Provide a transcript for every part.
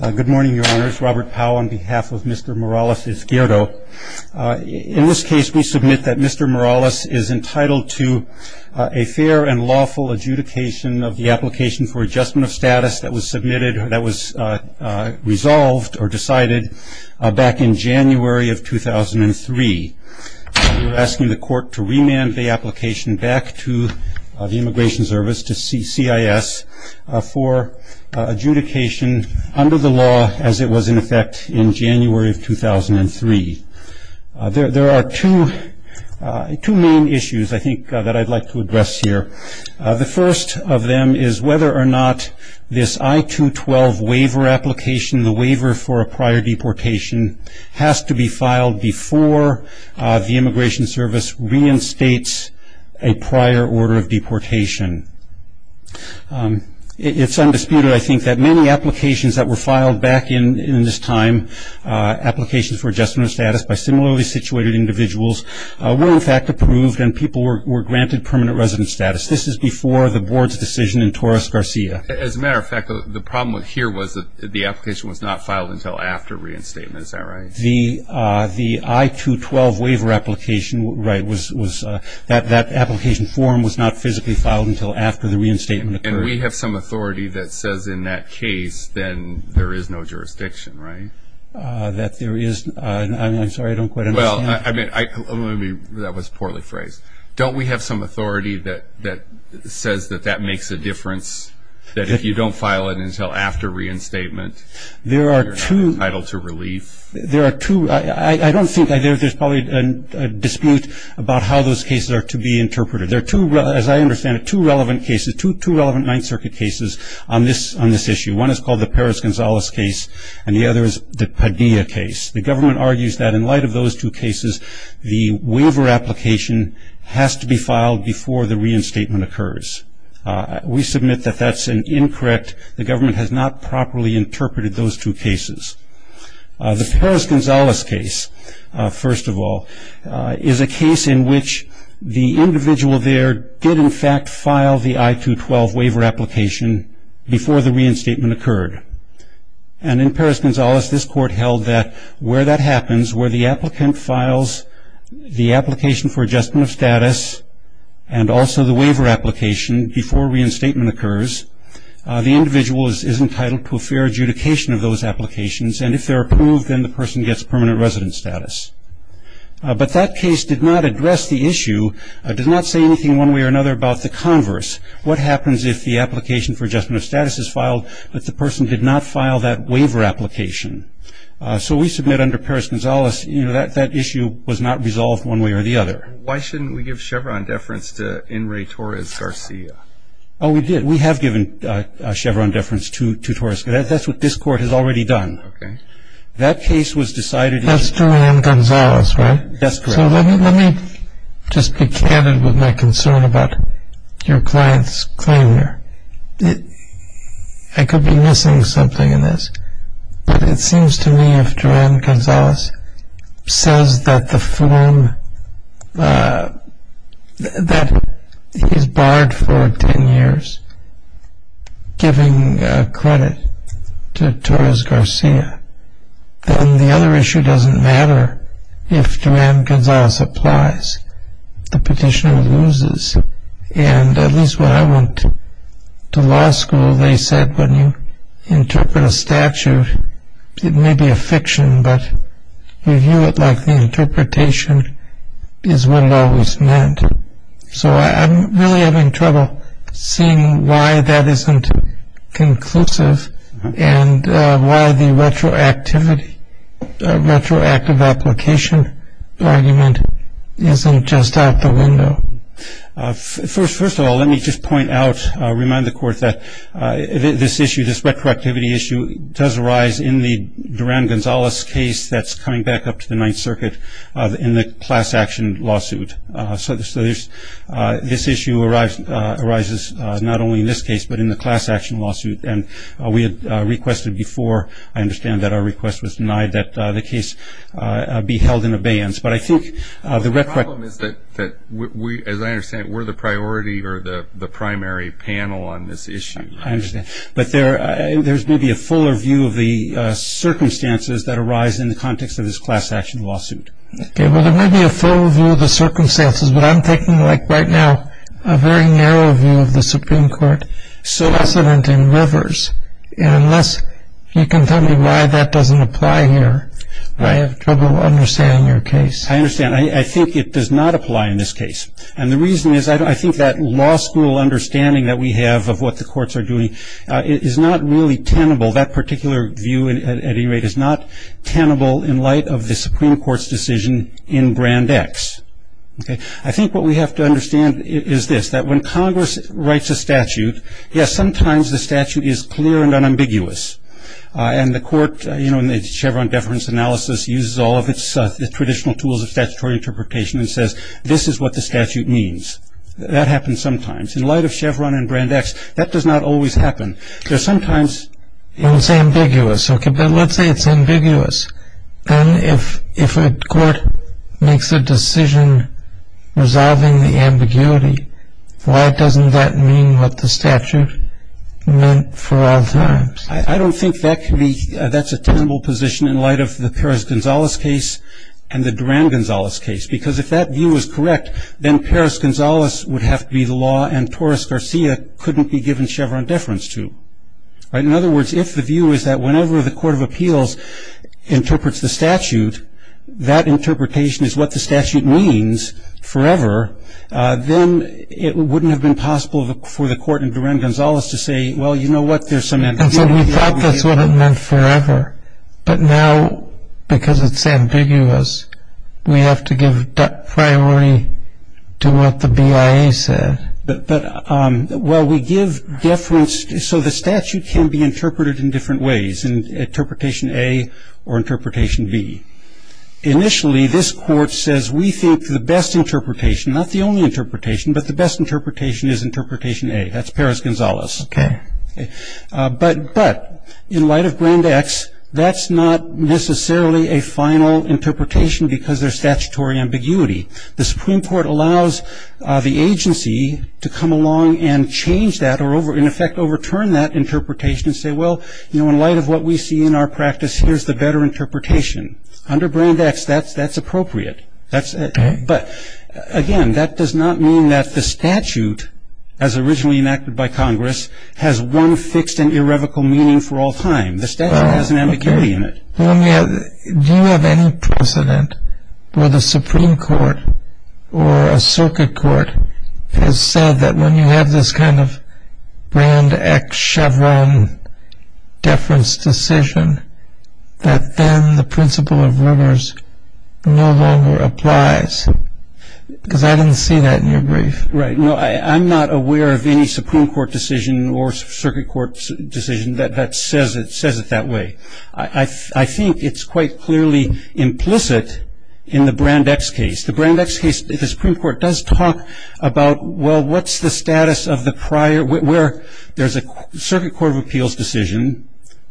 Good morning, Your Honors. Robert Powell on behalf of Mr. Morales-Izquierdo. In this case, we submit that Mr. Morales is entitled to a fair and lawful adjudication of the application for adjustment of status that was submitted, that was resolved or decided back in January of 2003. We're asking the court to remand the application back to the Immigration Service, to CIS, for adjudication under the law as it was in effect in January of 2003. There are two main issues, I think, that I'd like to address here. The first of them is whether or not this I-212 waiver application, the waiver for a prior deportation, has to be filed before the Immigration Service reinstates a prior order of deportation. It's undisputed, I think, that many applications that were filed back in this time, applications for adjustment of status by similarly situated individuals, were in fact approved and people were granted permanent residence status. This is before the Board's decision in Torres-Garcia. As a matter of fact, the problem here was that the application was not filed until after reinstatement. Is that right? The I-212 waiver application, right, that application form was not physically filed until after the reinstatement occurred. And we have some authority that says in that case then there is no jurisdiction, right? That there is, I'm sorry, I don't quite understand. Well, I mean, that was poorly phrased. Don't we have some authority that says that that makes a difference, that if you don't file it until after reinstatement you're entitled to relief? There are two, I don't think, there's probably a dispute about how those cases are to be interpreted. There are two, as I understand it, two relevant cases, two relevant Ninth Circuit cases on this issue. One is called the Perez-Gonzalez case and the other is the Padilla case. The government argues that in light of those two cases, the waiver application has to be filed before the reinstatement occurs. We submit that that's incorrect. The government has not properly interpreted those two cases. The Perez-Gonzalez case, first of all, is a case in which the individual there did in fact file the I-212 waiver application before the reinstatement occurred. And in Perez-Gonzalez this court held that where that happens, where the applicant files the application for adjustment of status and also the waiver application before reinstatement occurs, the individual is entitled to a fair adjudication of those applications and if they're approved then the person gets permanent resident status. But that case did not address the issue, did not say anything one way or another about the converse. What happens if the application for adjustment of status is filed but the person did not file that waiver application? So we submit under Perez-Gonzalez that that issue was not resolved one way or the other. Why shouldn't we give Chevron deference to Enrique Torres Garcia? Oh, we did. We have given Chevron deference to Torres. That's what this court has already done. Okay. That case was decided. That's Julian Gonzalez, right? That's correct. So let me just be candid with my concern about your client's claim here. I could be missing something in this, but it seems to me if Joanne Gonzalez says that the form that is barred for 10 years, giving credit to Torres Garcia, then the other issue doesn't matter if Joanne Gonzalez applies. The petitioner loses. And at least what I went to law school, they said when you interpret a statute, it may be a fiction but you view it like the interpretation is what it always meant. So I'm really having trouble seeing why that isn't conclusive and why the retroactive application argument isn't just out the window. First of all, let me just point out, remind the court that this issue, this retroactivity issue does arise in the Joanne Gonzalez case that's coming back up to the Ninth Circuit in the class action lawsuit. So this issue arises not only in this case but in the class action lawsuit. And we had requested before, I understand that our request was denied, that the case be held in abeyance. But I think the retroactive – The problem is that, as I understand it, we're the priority or the primary panel on this issue. I understand. But there's maybe a fuller view of the circumstances that arise in the context of this class action lawsuit. Okay. Well, there may be a fuller view of the circumstances, but I'm thinking, like, right now, a very narrow view of the Supreme Court. So – It's less evident in rivers. And unless you can tell me why that doesn't apply here, I have trouble understanding your case. I understand. I think it does not apply in this case. And the reason is I think that law school understanding that we have of what the courts are doing is not really tenable. That particular view, at any rate, is not tenable in light of the Supreme Court's decision in Brand X. Okay. I think what we have to understand is this, that when Congress writes a statute, yes, sometimes the statute is clear and unambiguous. And the court, you know, in the Chevron deference analysis, uses all of its traditional tools of statutory interpretation and says, this is what the statute means. That happens sometimes. In light of Chevron and Brand X, that does not always happen. There's sometimes – Well, it's ambiguous. Okay. But let's say it's ambiguous. Then if a court makes a decision resolving the ambiguity, why doesn't that mean what the statute meant for all times? I don't think that can be – that's a tenable position in light of the Perez-Gonzalez case and the Duran-Gonzalez case. Because if that view is correct, then Perez-Gonzalez would have to be the law and Torres-Garcia couldn't be given Chevron deference to. In other words, if the view is that whenever the Court of Appeals interprets the statute, that interpretation is what the statute means forever, then it wouldn't have been possible for the court in Duran-Gonzalez to say, well, you know what, there's some ambiguity. And so we thought that's what it meant forever. But now, because it's ambiguous, we have to give priority to what the BIA said. But while we give deference, so the statute can be interpreted in different ways, in Interpretation A or Interpretation B. Initially, this court says we think the best interpretation, not the only interpretation, but the best interpretation is Interpretation A. That's Perez-Gonzalez. Okay. But in light of Grand X, that's not necessarily a final interpretation because there's statutory ambiguity. The Supreme Court allows the agency to come along and change that or in effect overturn that interpretation and say, well, you know, in light of what we see in our practice, here's the better interpretation. Under Grand X, that's appropriate. Okay. But, again, that does not mean that the statute, as originally enacted by Congress, has one fixed and irrevocable meaning for all time. The statute has an ambiguity in it. Do you have any precedent where the Supreme Court or a circuit court has said that when you have this kind of Grand X Chevron deference decision that then the principle of rumors no longer applies? Because I didn't see that in your brief. Right. No, I'm not aware of any Supreme Court decision or circuit court decision that says it that way. I think it's quite clearly implicit in the Grand X case. The Grand X case, the Supreme Court does talk about, well, what's the status of the prior, where there's a circuit court of appeals decision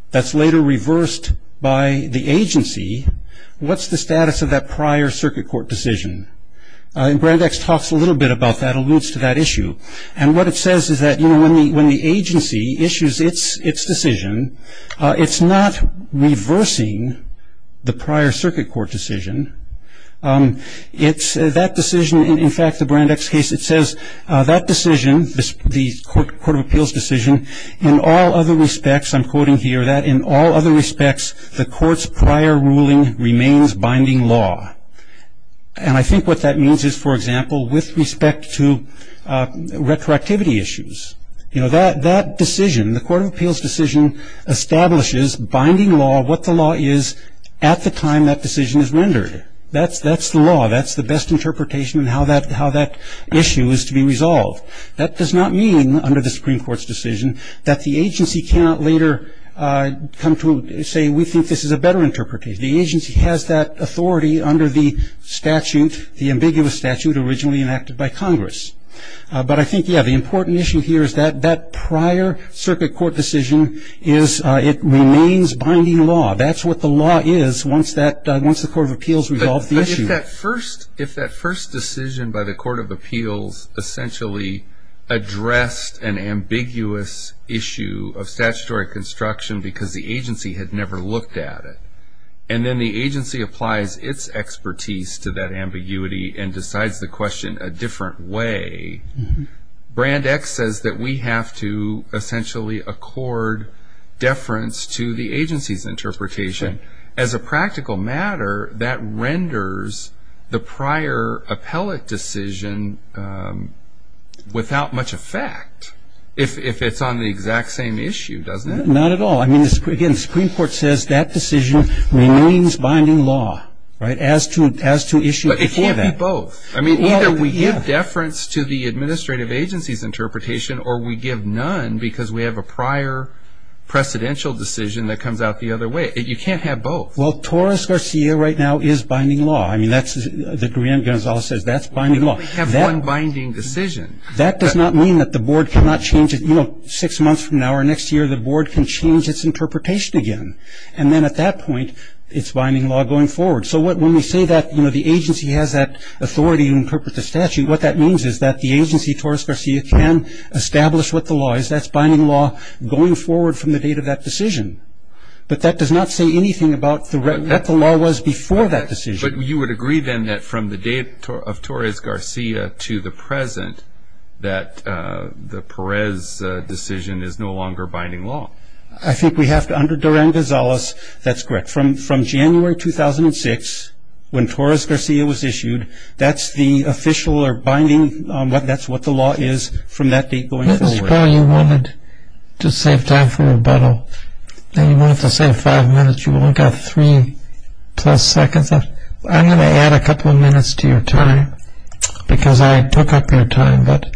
that's later reversed by the agency. What's the status of that prior circuit court decision? And Grand X talks a little bit about that, alludes to that issue. And what it says is that, you know, when the agency issues its decision, it's not reversing the prior circuit court decision. It's that decision, in fact, the Grand X case, it says that decision, the court of appeals decision, in all other respects, I'm quoting here, that in all other respects the court's prior ruling remains binding law. And I think what that means is, for example, with respect to retroactivity issues. You know, that decision, the court of appeals decision establishes binding law, what the law is at the time that decision is rendered. That's the law. That's the best interpretation of how that issue is to be resolved. That does not mean, under the Supreme Court's decision, that the agency cannot later come to say we think this is a better interpretation. The agency has that authority under the statute, the ambiguous statute originally enacted by Congress. But I think, yeah, the important issue here is that that prior circuit court decision is it remains binding law. That's what the law is once the court of appeals resolves the issue. But if that first decision by the court of appeals essentially addressed an ambiguous issue of statutory construction because the agency had never looked at it, and then the agency applies its expertise to that ambiguity and decides the question a different way, Brand X says that we have to essentially accord deference to the agency's interpretation. As a practical matter, that renders the prior appellate decision without much effect, if it's on the exact same issue, doesn't it? Not at all. I mean, again, the Supreme Court says that decision remains binding law, right, as to issue before that. But it can't be both. I mean, either we give deference to the administrative agency's interpretation or we give none because we have a prior precedential decision that comes out the other way. You can't have both. Well, Torres-Garcia right now is binding law. I mean, that's what Gonzalez says, that's binding law. We only have one binding decision. That does not mean that the board cannot change it. You know, six months from now or next year, the board can change its interpretation again. And then at that point, it's binding law going forward. So when we say that, you know, the agency has that authority to interpret the statute, what that means is that the agency, Torres-Garcia, can establish what the law is. That's binding law going forward from the date of that decision. But that does not say anything about what the law was before that decision. But you would agree, then, that from the date of Torres-Garcia to the present, that the Perez decision is no longer binding law. I think we have to, under Duran-Gonzalez, that's correct. But from January 2006, when Torres-Garcia was issued, that's the official or binding, that's what the law is from that date going forward. Mr. Powell, you wanted to save time for rebuttal. You wanted to save five minutes. You only got three-plus seconds. I'm going to add a couple of minutes to your time because I took up your time. But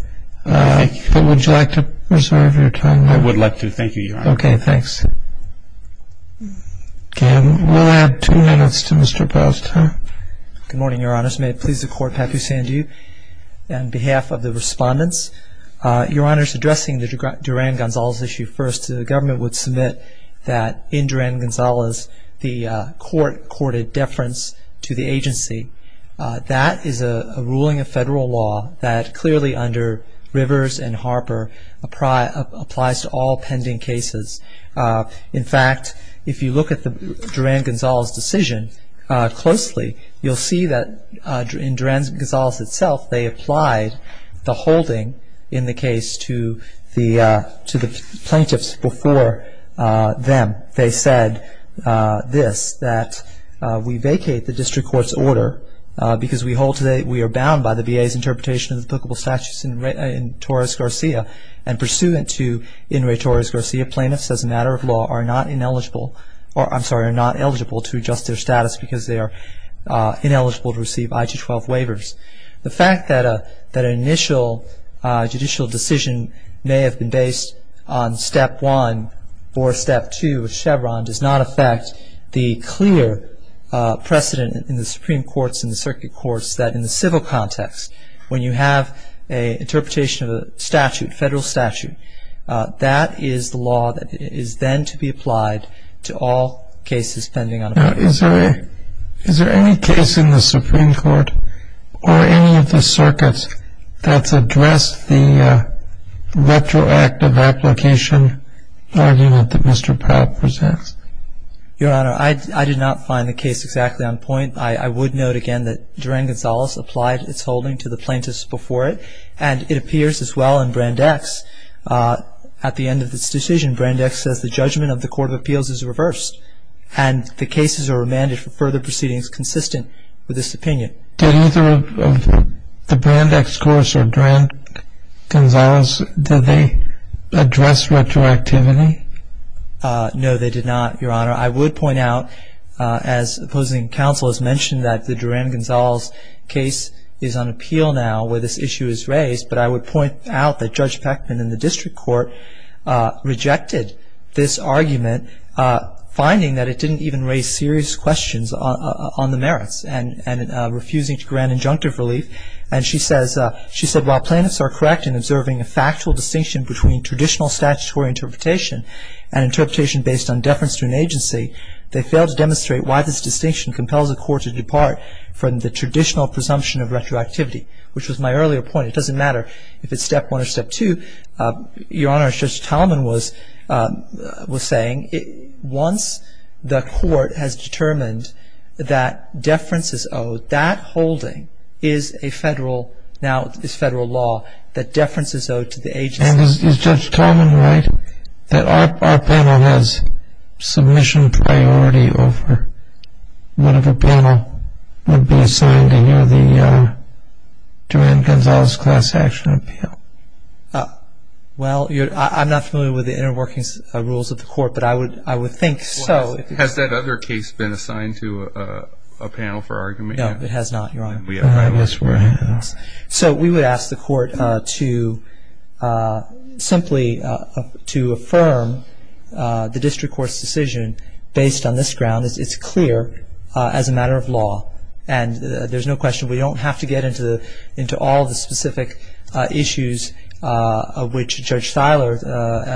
would you like to reserve your time now? I would like to. Thank you, Your Honor. Okay, thanks. Okay, we'll add two minutes to Mr. Powell's time. Good morning, Your Honors. May it please the Court, Papu-Sandhu. On behalf of the respondents, Your Honors, addressing the Duran-Gonzalez issue first, the government would submit that in Duran-Gonzalez, the court courted deference to the agency. That is a ruling of federal law that clearly under Rivers and Harper applies to all pending cases. In fact, if you look at the Duran-Gonzalez decision closely, you'll see that in Duran-Gonzalez itself they applied the holding in the case to the plaintiffs before them. They said this, that we vacate the district court's order because we are bound by the VA's interpretation in Torres-Garcia and pursuant to In re Torres-Garcia, plaintiffs as a matter of law are not eligible to adjust their status because they are ineligible to receive I-212 waivers. The fact that an initial judicial decision may have been based on Step 1 or Step 2 of Chevron does not affect the clear precedent in the Supreme Courts and the circuit courts that in the civil context, when you have an interpretation of a statute, federal statute, that is the law that is then to be applied to all cases pending on a plaintiff's order. Now, is there any case in the Supreme Court or any of the circuits that's addressed the retroactive application argument that Mr. Powell presents? Your Honor, I did not find the case exactly on point. I would note again that Duran-Gonzalez applied its holding to the plaintiffs before it and it appears as well in Brand X. At the end of this decision, Brand X says the judgment of the Court of Appeals is reversed and the cases are remanded for further proceedings consistent with this opinion. Did either of the Brand X courts or Duran-Gonzalez, did they address retroactivity? No, they did not, Your Honor. I would point out, as opposing counsel has mentioned, that the Duran-Gonzalez case is on appeal now where this issue is raised, but I would point out that Judge Peckman in the district court rejected this argument, finding that it didn't even raise serious questions on the merits and refusing to grant injunctive relief. And she said, While plaintiffs are correct in observing a factual distinction between traditional statutory interpretation and interpretation based on deference to an agency, they fail to demonstrate why this distinction compels a court to depart from the traditional presumption of retroactivity, which was my earlier point. It doesn't matter if it's step one or step two. Your Honor, as Judge Talman was saying, once the court has determined that deference is owed, that holding is a federal, now is federal law, that deference is owed to the agency. And is Judge Talman right that our panel has submission priority over whatever panel would be assigned to hear the Duran-Gonzalez class action appeal? Well, I'm not familiar with the inter-workings rules of the court, but I would think so. Has that other case been assigned to a panel for argument yet? No, it has not, Your Honor. I guess we're ahead of this. So we would ask the court to simply to affirm the district court's decision based on this ground. It's clear as a matter of law, and there's no question. We don't have to get into all the specific issues of which Judge Thiler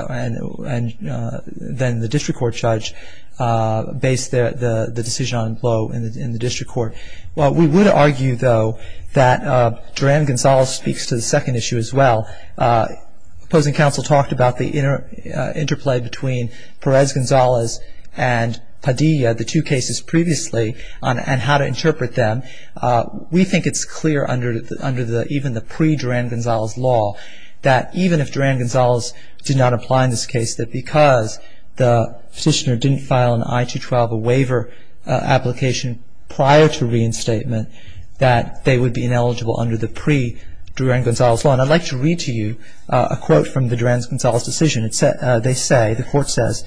and then the district court judge based the decision on blow in the district court. Well, we would argue, though, that Duran-Gonzalez speaks to the second issue as well. Opposing counsel talked about the interplay between Perez-Gonzalez and Padilla, the two cases previously, and how to interpret them. We think it's clear under even the pre-Duran-Gonzalez law that even if Duran-Gonzalez did not apply in this case, that because the petitioner didn't file an I-212 waiver application prior to reinstatement, that they would be ineligible under the pre-Duran-Gonzalez law. And I'd like to read to you a quote from the Duran-Gonzalez decision. They say, the court says,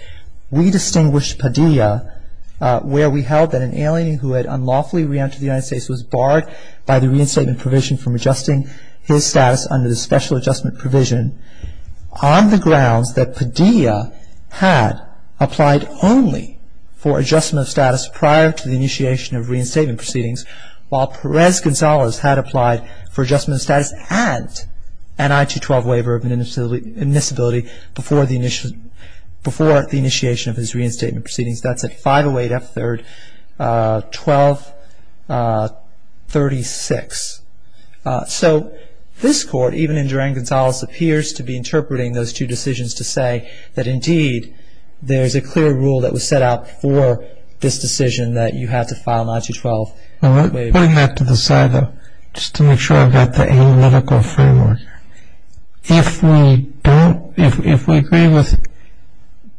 We distinguish Padilla where we held that an alien who had unlawfully re-entered the United States was barred by the reinstatement provision from adjusting his status under the special adjustment provision on the grounds that Padilla had applied only for adjustment of status prior to the initiation of reinstatement proceedings, while Perez-Gonzalez had applied for adjustment of status and an I-212 waiver of admissibility before the initiation of his reinstatement proceedings. That's at 508 F3rd 1236. So this court, even in Duran-Gonzalez, appears to be interpreting those two decisions to say that, indeed, there is a clear rule that was set out for this decision that you have to file an I-212 waiver. Putting that to the side, though, just to make sure I've got the analytical framework, if we agree with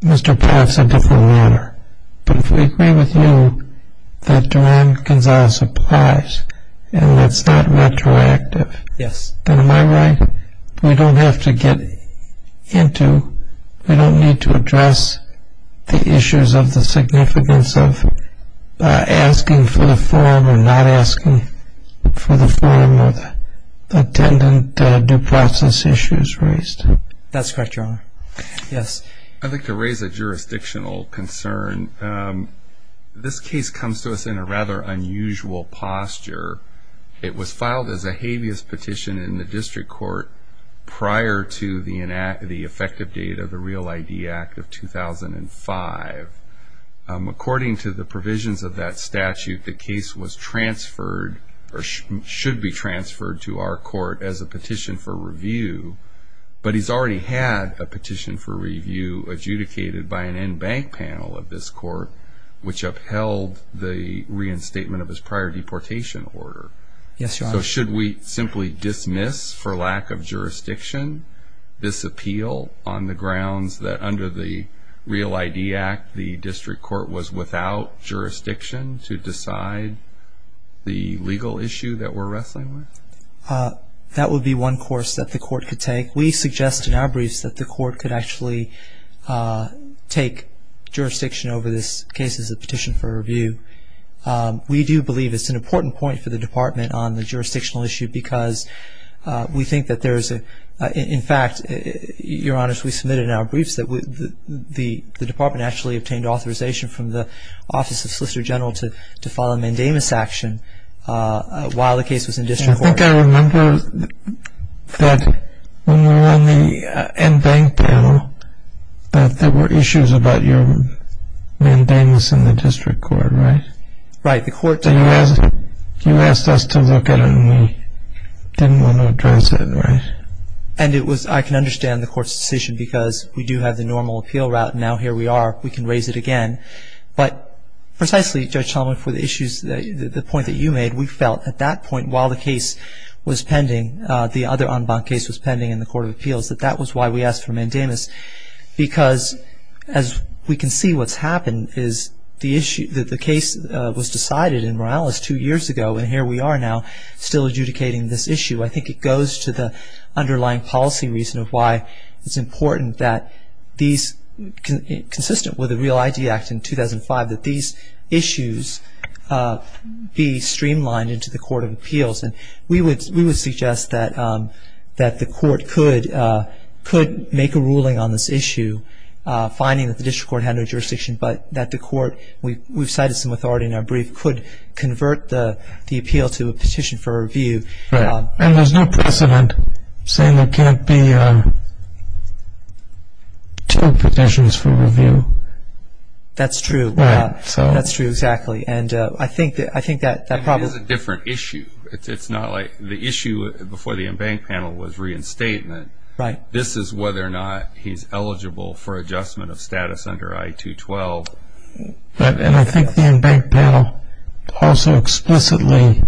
Mr. Padilla, it's a different matter. But if we agree with you that Duran-Gonzalez applies and it's not retroactive, then am I right we don't have to get into, we don't need to address the issues of the significance of asking for the form or not asking for the form of attendant due process issues raised? That's correct, Your Honor. Yes. I'd like to raise a jurisdictional concern. This case comes to us in a rather unusual posture. It was filed as a habeas petition in the district court prior to the effective date of the Real ID Act of 2005. According to the provisions of that statute, the case was transferred or should be transferred to our court as a petition for review, but he's already had a petition for review adjudicated by an in-bank panel of this court which upheld the reinstatement of his prior deportation order. Yes, Your Honor. So should we simply dismiss for lack of jurisdiction this appeal on the grounds that under the Real ID Act, the district court was without jurisdiction to decide the legal issue that we're wrestling with? That would be one course that the court could take. We suggest in our briefs that the court could actually take jurisdiction over this case as a petition for review. We do believe it's an important point for the Department on the jurisdictional issue because we think that there is a, in fact, Your Honor, as we submitted in our briefs, the Department actually obtained authorization from the Office of Solicitor General to file a mandamus action while the case was in district court. I think I remember that when we were on the in-bank panel, that there were issues about your mandamus in the district court, right? Right. You asked us to look at it, and we didn't want to address it, right? And it was, I can understand the court's decision because we do have the normal appeal route, and now here we are, we can raise it again. But precisely, Judge Solomon, for the issues, the point that you made, we felt at that point while the case was pending, the other on-bank case was pending in the Court of Appeals, that that was why we asked for a mandamus because as we can see what's happened is the issue, the case was decided in Morales two years ago, and here we are now still adjudicating this issue. I think it goes to the underlying policy reason of why it's important that these, consistent with the Real ID Act in 2005, that these issues be streamlined into the Court of Appeals. And we would suggest that the court could make a ruling on this issue, finding that the district court had no jurisdiction, but that the court, we've cited some authority in our brief, could convert the appeal to a petition for review. And there's no precedent saying there can't be two petitions for review. That's true. Right. That's true, exactly. And I think that problem is a different issue. It's not like the issue before the in-bank panel was reinstatement. Right. This is whether or not he's eligible for adjustment of status under I-212. And I think the in-bank panel also explicitly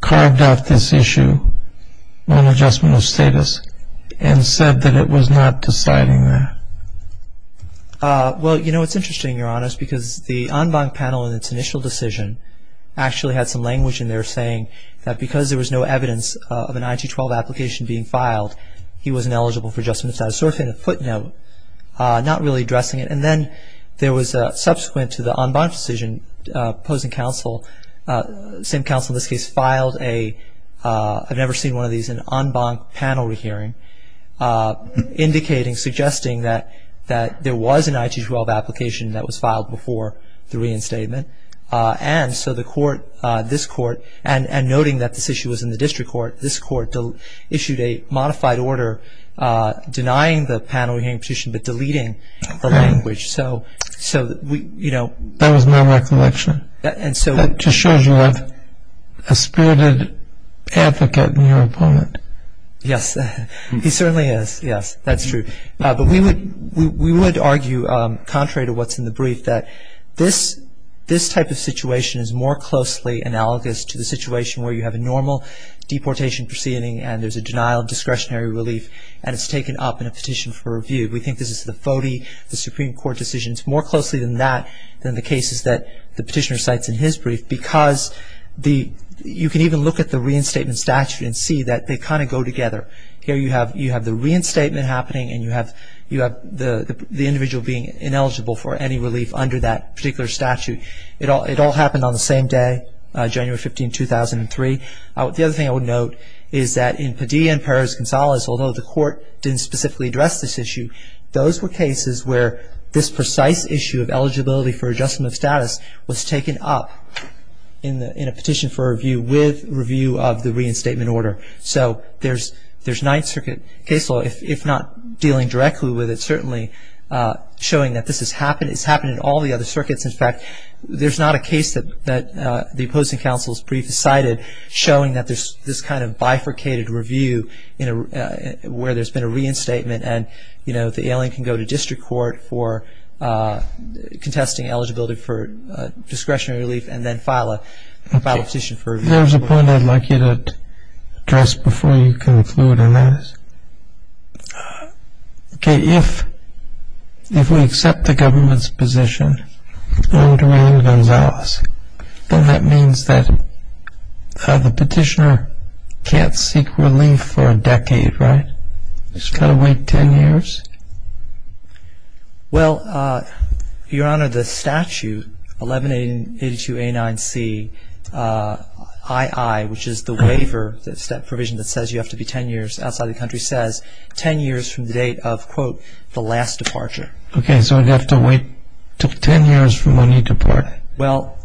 carved out this issue on adjustment of status and said that it was not deciding that. Well, you know, it's interesting, Your Honors, because the on-bank panel in its initial decision actually had some language in there saying that because there was no evidence of an I-212 application being filed, he wasn't eligible for adjustment of status, sort of in a footnote, not really addressing it. And then there was a subsequent to the on-bank decision opposing counsel, same counsel in this case, filed a, I've never seen one of these, an on-bank panel re-hearing, indicating, suggesting that there was an I-212 application that was filed before the reinstatement. And so the court, this court, and noting that this issue was in the district court, this court issued a modified order denying the panel re-hearing petition but deleting the language. So, you know. That was my recollection. And so. That just shows you have a spirited advocate in your opponent. Yes. He certainly has. Yes. That's true. But we would argue, contrary to what's in the brief, that this type of situation is more closely analogous to the situation where you have a normal deportation proceeding and there's a denial of discretionary relief and it's taken up in a petition for review. We think this is the FODI, the Supreme Court decision. It's more closely than that than the cases that the petitioner cites in his brief because you can even look at the reinstatement statute and see that they kind of go together. Here you have the reinstatement happening and you have the individual being ineligible for any relief under that particular statute. It all happened on the same day, January 15, 2003. The other thing I would note is that in Padilla and Perez-Gonzalez, although the court didn't specifically address this issue, those were cases where this precise issue of eligibility for adjustment of status was taken up in a petition for review with review of the reinstatement order. So there's Ninth Circuit case law, if not dealing directly with it, certainly showing that this has happened. It's happened in all the other circuits. In fact, there's not a case that the opposing counsel's brief cited showing that there's this kind of bifurcated review where there's been a reinstatement and the alien can go to district court for contesting eligibility for discretionary relief and then file a petition for review. There's a point I'd like you to address before you conclude on this. Okay, if we accept the government's position under Ian Gonzalez, then that means that the petitioner can't seek relief for a decade, right? He's got to wait 10 years? Well, Your Honor, the statute, 1182A9Cii, which is the waiver provision that says you have to be 10 years outside of the country, says 10 years from the date of, quote, the last departure. Okay, so I'd have to wait 10 years from when you depart? Well,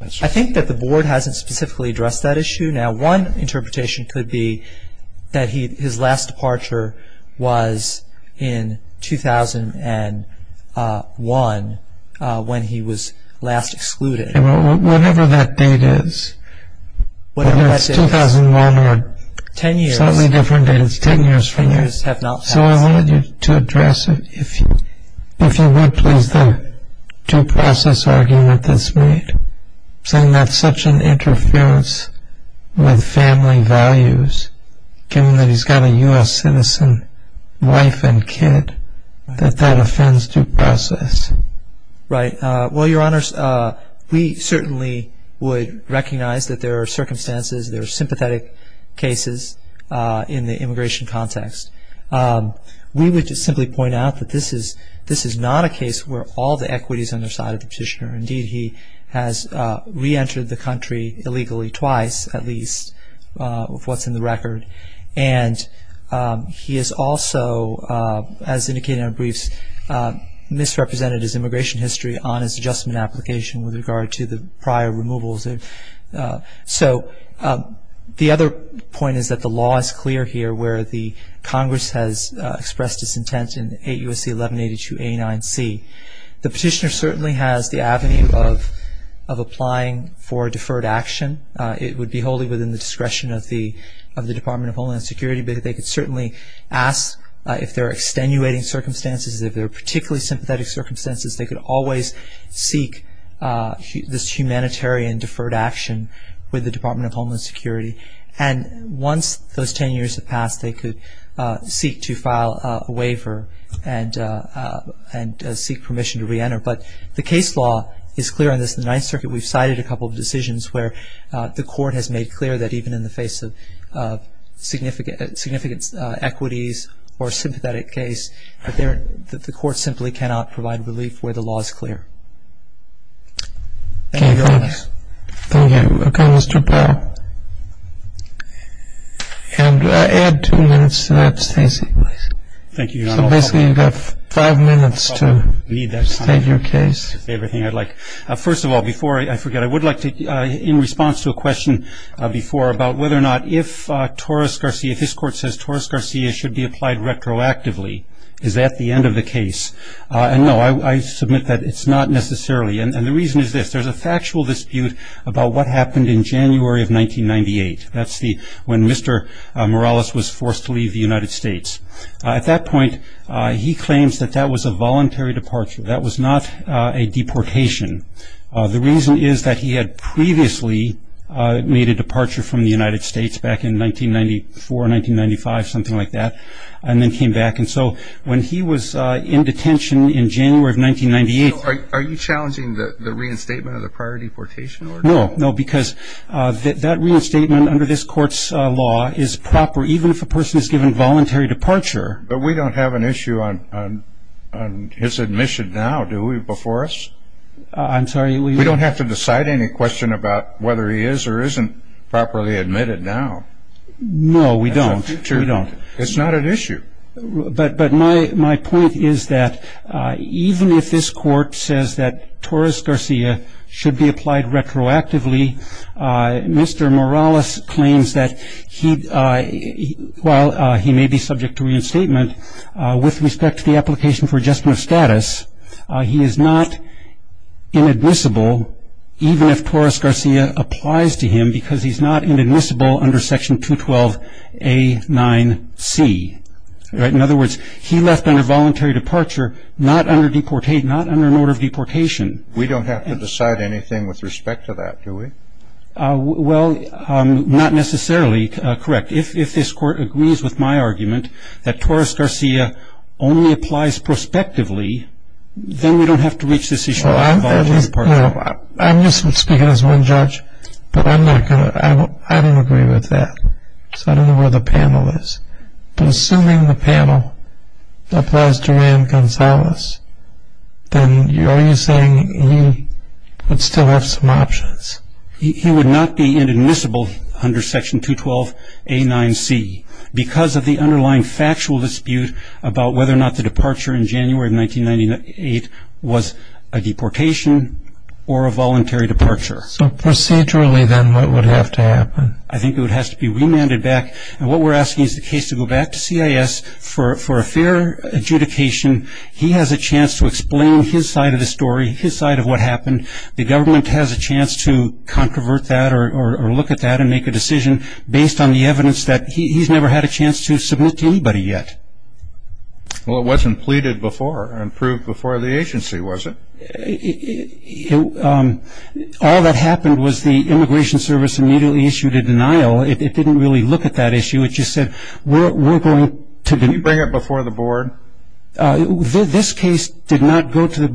I think that the board hasn't specifically addressed that issue. Now, one interpretation could be that his last departure was in 2001 when he was last excluded. Whatever that date is, whether it's 2001 or a slightly different date, it's 10 years from now. So I wanted you to address it if you would, please, with the due process argument that's made, saying that's such an interference with family values, given that he's got a U.S. citizen wife and kid, that that offends due process. Right. Well, Your Honors, we certainly would recognize that there are circumstances, there are sympathetic cases in the immigration context. We would simply point out that this is not a case where all the equity is on the side of the petitioner. Indeed, he has reentered the country illegally twice, at least, of what's in the record. And he has also, as indicated in our briefs, misrepresented his immigration history on his adjustment application with regard to the prior removals. So the other point is that the law is clear here, where the Congress has expressed its intent in 8 U.S.C. 1182a9c. The petitioner certainly has the avenue of applying for deferred action. It would be wholly within the discretion of the Department of Homeland Security, but they could certainly ask if there are extenuating circumstances, if there are particularly sympathetic circumstances, they could always seek this humanitarian deferred action with the Department of Homeland Security. And once those 10 years have passed, they could seek to file a waiver and seek permission to reenter. But the case law is clear on this. The Ninth Circuit, we've cited a couple of decisions where the court has made clear that even in the face of significant equities or sympathetic case, the court simply cannot provide relief where the law is clear. Thank you. Thank you. Okay, Mr. Powell. And add two minutes to that statement, please. Thank you, Your Honor. So basically you've got five minutes to state your case. First of all, before I forget, I would like to, in response to a question before about whether or not if Torres-Garcia, if this court says Torres-Garcia should be applied retroactively, is that the end of the case? No, I submit that it's not necessarily. And the reason is this. There's a factual dispute about what happened in January of 1998. That's when Mr. Morales was forced to leave the United States. At that point, he claims that that was a voluntary departure. That was not a deportation. The reason is that he had previously made a departure from the United States back in 1994, 1995, something like that, and then came back. And so when he was in detention in January of 1998. Are you challenging the reinstatement of the prior deportation order? No, no, because that reinstatement under this court's law is proper, even if a person is given voluntary departure. But we don't have an issue on his admission now, do we, before us? I'm sorry. We don't have to decide any question about whether he is or isn't properly admitted now. No, we don't. We don't. It's not an issue. But my point is that even if this court says that Torres-Garcia should be applied retroactively, Mr. Morales claims that while he may be subject to reinstatement, with respect to the application for adjustment of status, he is not inadmissible, even if Torres-Garcia applies to him because he's not inadmissible under Section 212A9C. In other words, he left under voluntary departure, not under an order of deportation. We don't have to decide anything with respect to that, do we? Well, not necessarily correct. If this court agrees with my argument that Torres-Garcia only applies prospectively, then we don't have to reach this issue of voluntary departure. I'm just speaking as one judge, but I don't agree with that. So I don't know where the panel is. But assuming the panel applies to Rand Gonzales, then are you saying he would still have some options? He would not be inadmissible under Section 212A9C because of the underlying factual dispute about whether or not the departure in January of 1998 was a deportation or a voluntary departure. So procedurally, then, what would have to happen? I think it would have to be remanded back. And what we're asking is the case to go back to CIS for a fair adjudication. He has a chance to explain his side of the story, his side of what happened. The government has a chance to controvert that or look at that and make a decision based on the evidence that he's never had a chance to submit to anybody yet. Well, it wasn't pleaded before and proved before the agency, was it? All that happened was the Immigration Service immediately issued a denial. It didn't really look at that issue. It just said, we're going to do it. Did you bring it before the board? This case did not go to the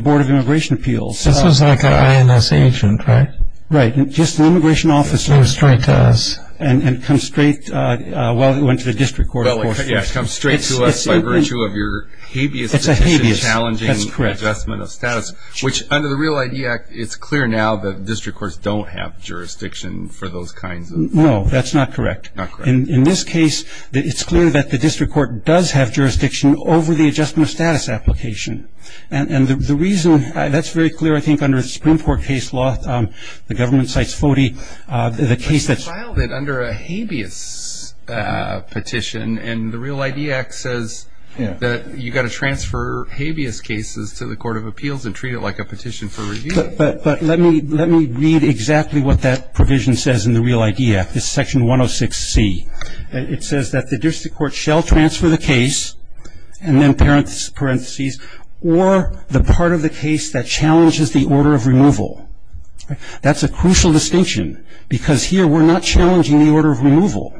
Board of Immigration Appeals. This was like an INS agent, right? Right. Just an immigration officer. It came straight to us. And it comes straight, well, it went to the district court, of course. Yeah, it comes straight to us by virtue of your habeas, which is a challenging adjustment of status. That's correct. Which, under the Real ID Act, it's clear now that district courts don't have jurisdiction for those kinds of things. No, that's not correct. Not correct. In this case, it's clear that the district court does have jurisdiction over the adjustment of status application. And the reason that's very clear, I think, under the Supreme Court case law, the government cites FODI. But you filed it under a habeas petition, and the Real ID Act says that you've got to transfer habeas cases to the Court of Appeals and treat it like a petition for review. But let me read exactly what that provision says in the Real ID Act. It's Section 106C. It says that the district court shall transfer the case, and then parentheses, or the part of the case that challenges the order of removal. That's a crucial distinction, because here we're not challenging the order of removal.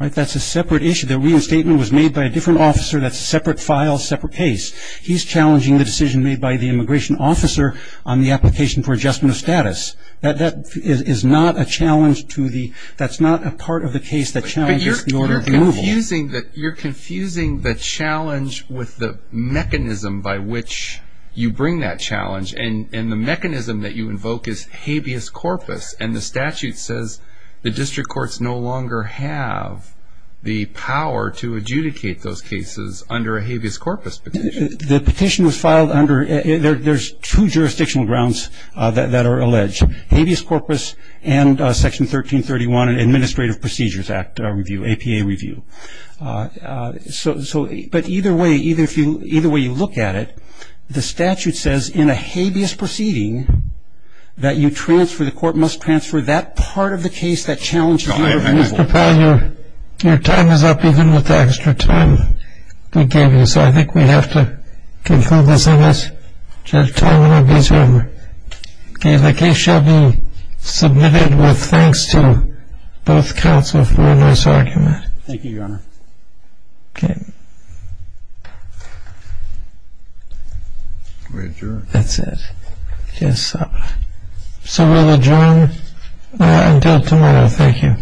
That's a separate issue. The reinstatement was made by a different officer. That's a separate file, separate case. He's challenging the decision made by the immigration officer on the application for adjustment of status. That is not a challenge to the ñ that's not a part of the case that challenges the order of removal. But you're confusing the challenge with the mechanism by which you bring that challenge. And the mechanism that you invoke is habeas corpus, and the statute says the district courts no longer have the power to adjudicate those cases under a habeas corpus petition. The petition was filed under ñ there's two jurisdictional grounds that are alleged, habeas corpus and Section 1331, Administrative Procedures Act review, APA review. But either way, either way you look at it, the statute says in a habeas proceeding that you transfer, the court must transfer that part of the case that challenges the order of removal. Mr. Powell, your time is up, even with the extra time we gave you. So I think we have to conclude this in this. Judge Tolman, I'll get you over. Okay, the case shall be submitted with thanks to both counsel for a nice argument. Thank you, Your Honor. Okay. That's it. So we'll adjourn until tomorrow. Thank you.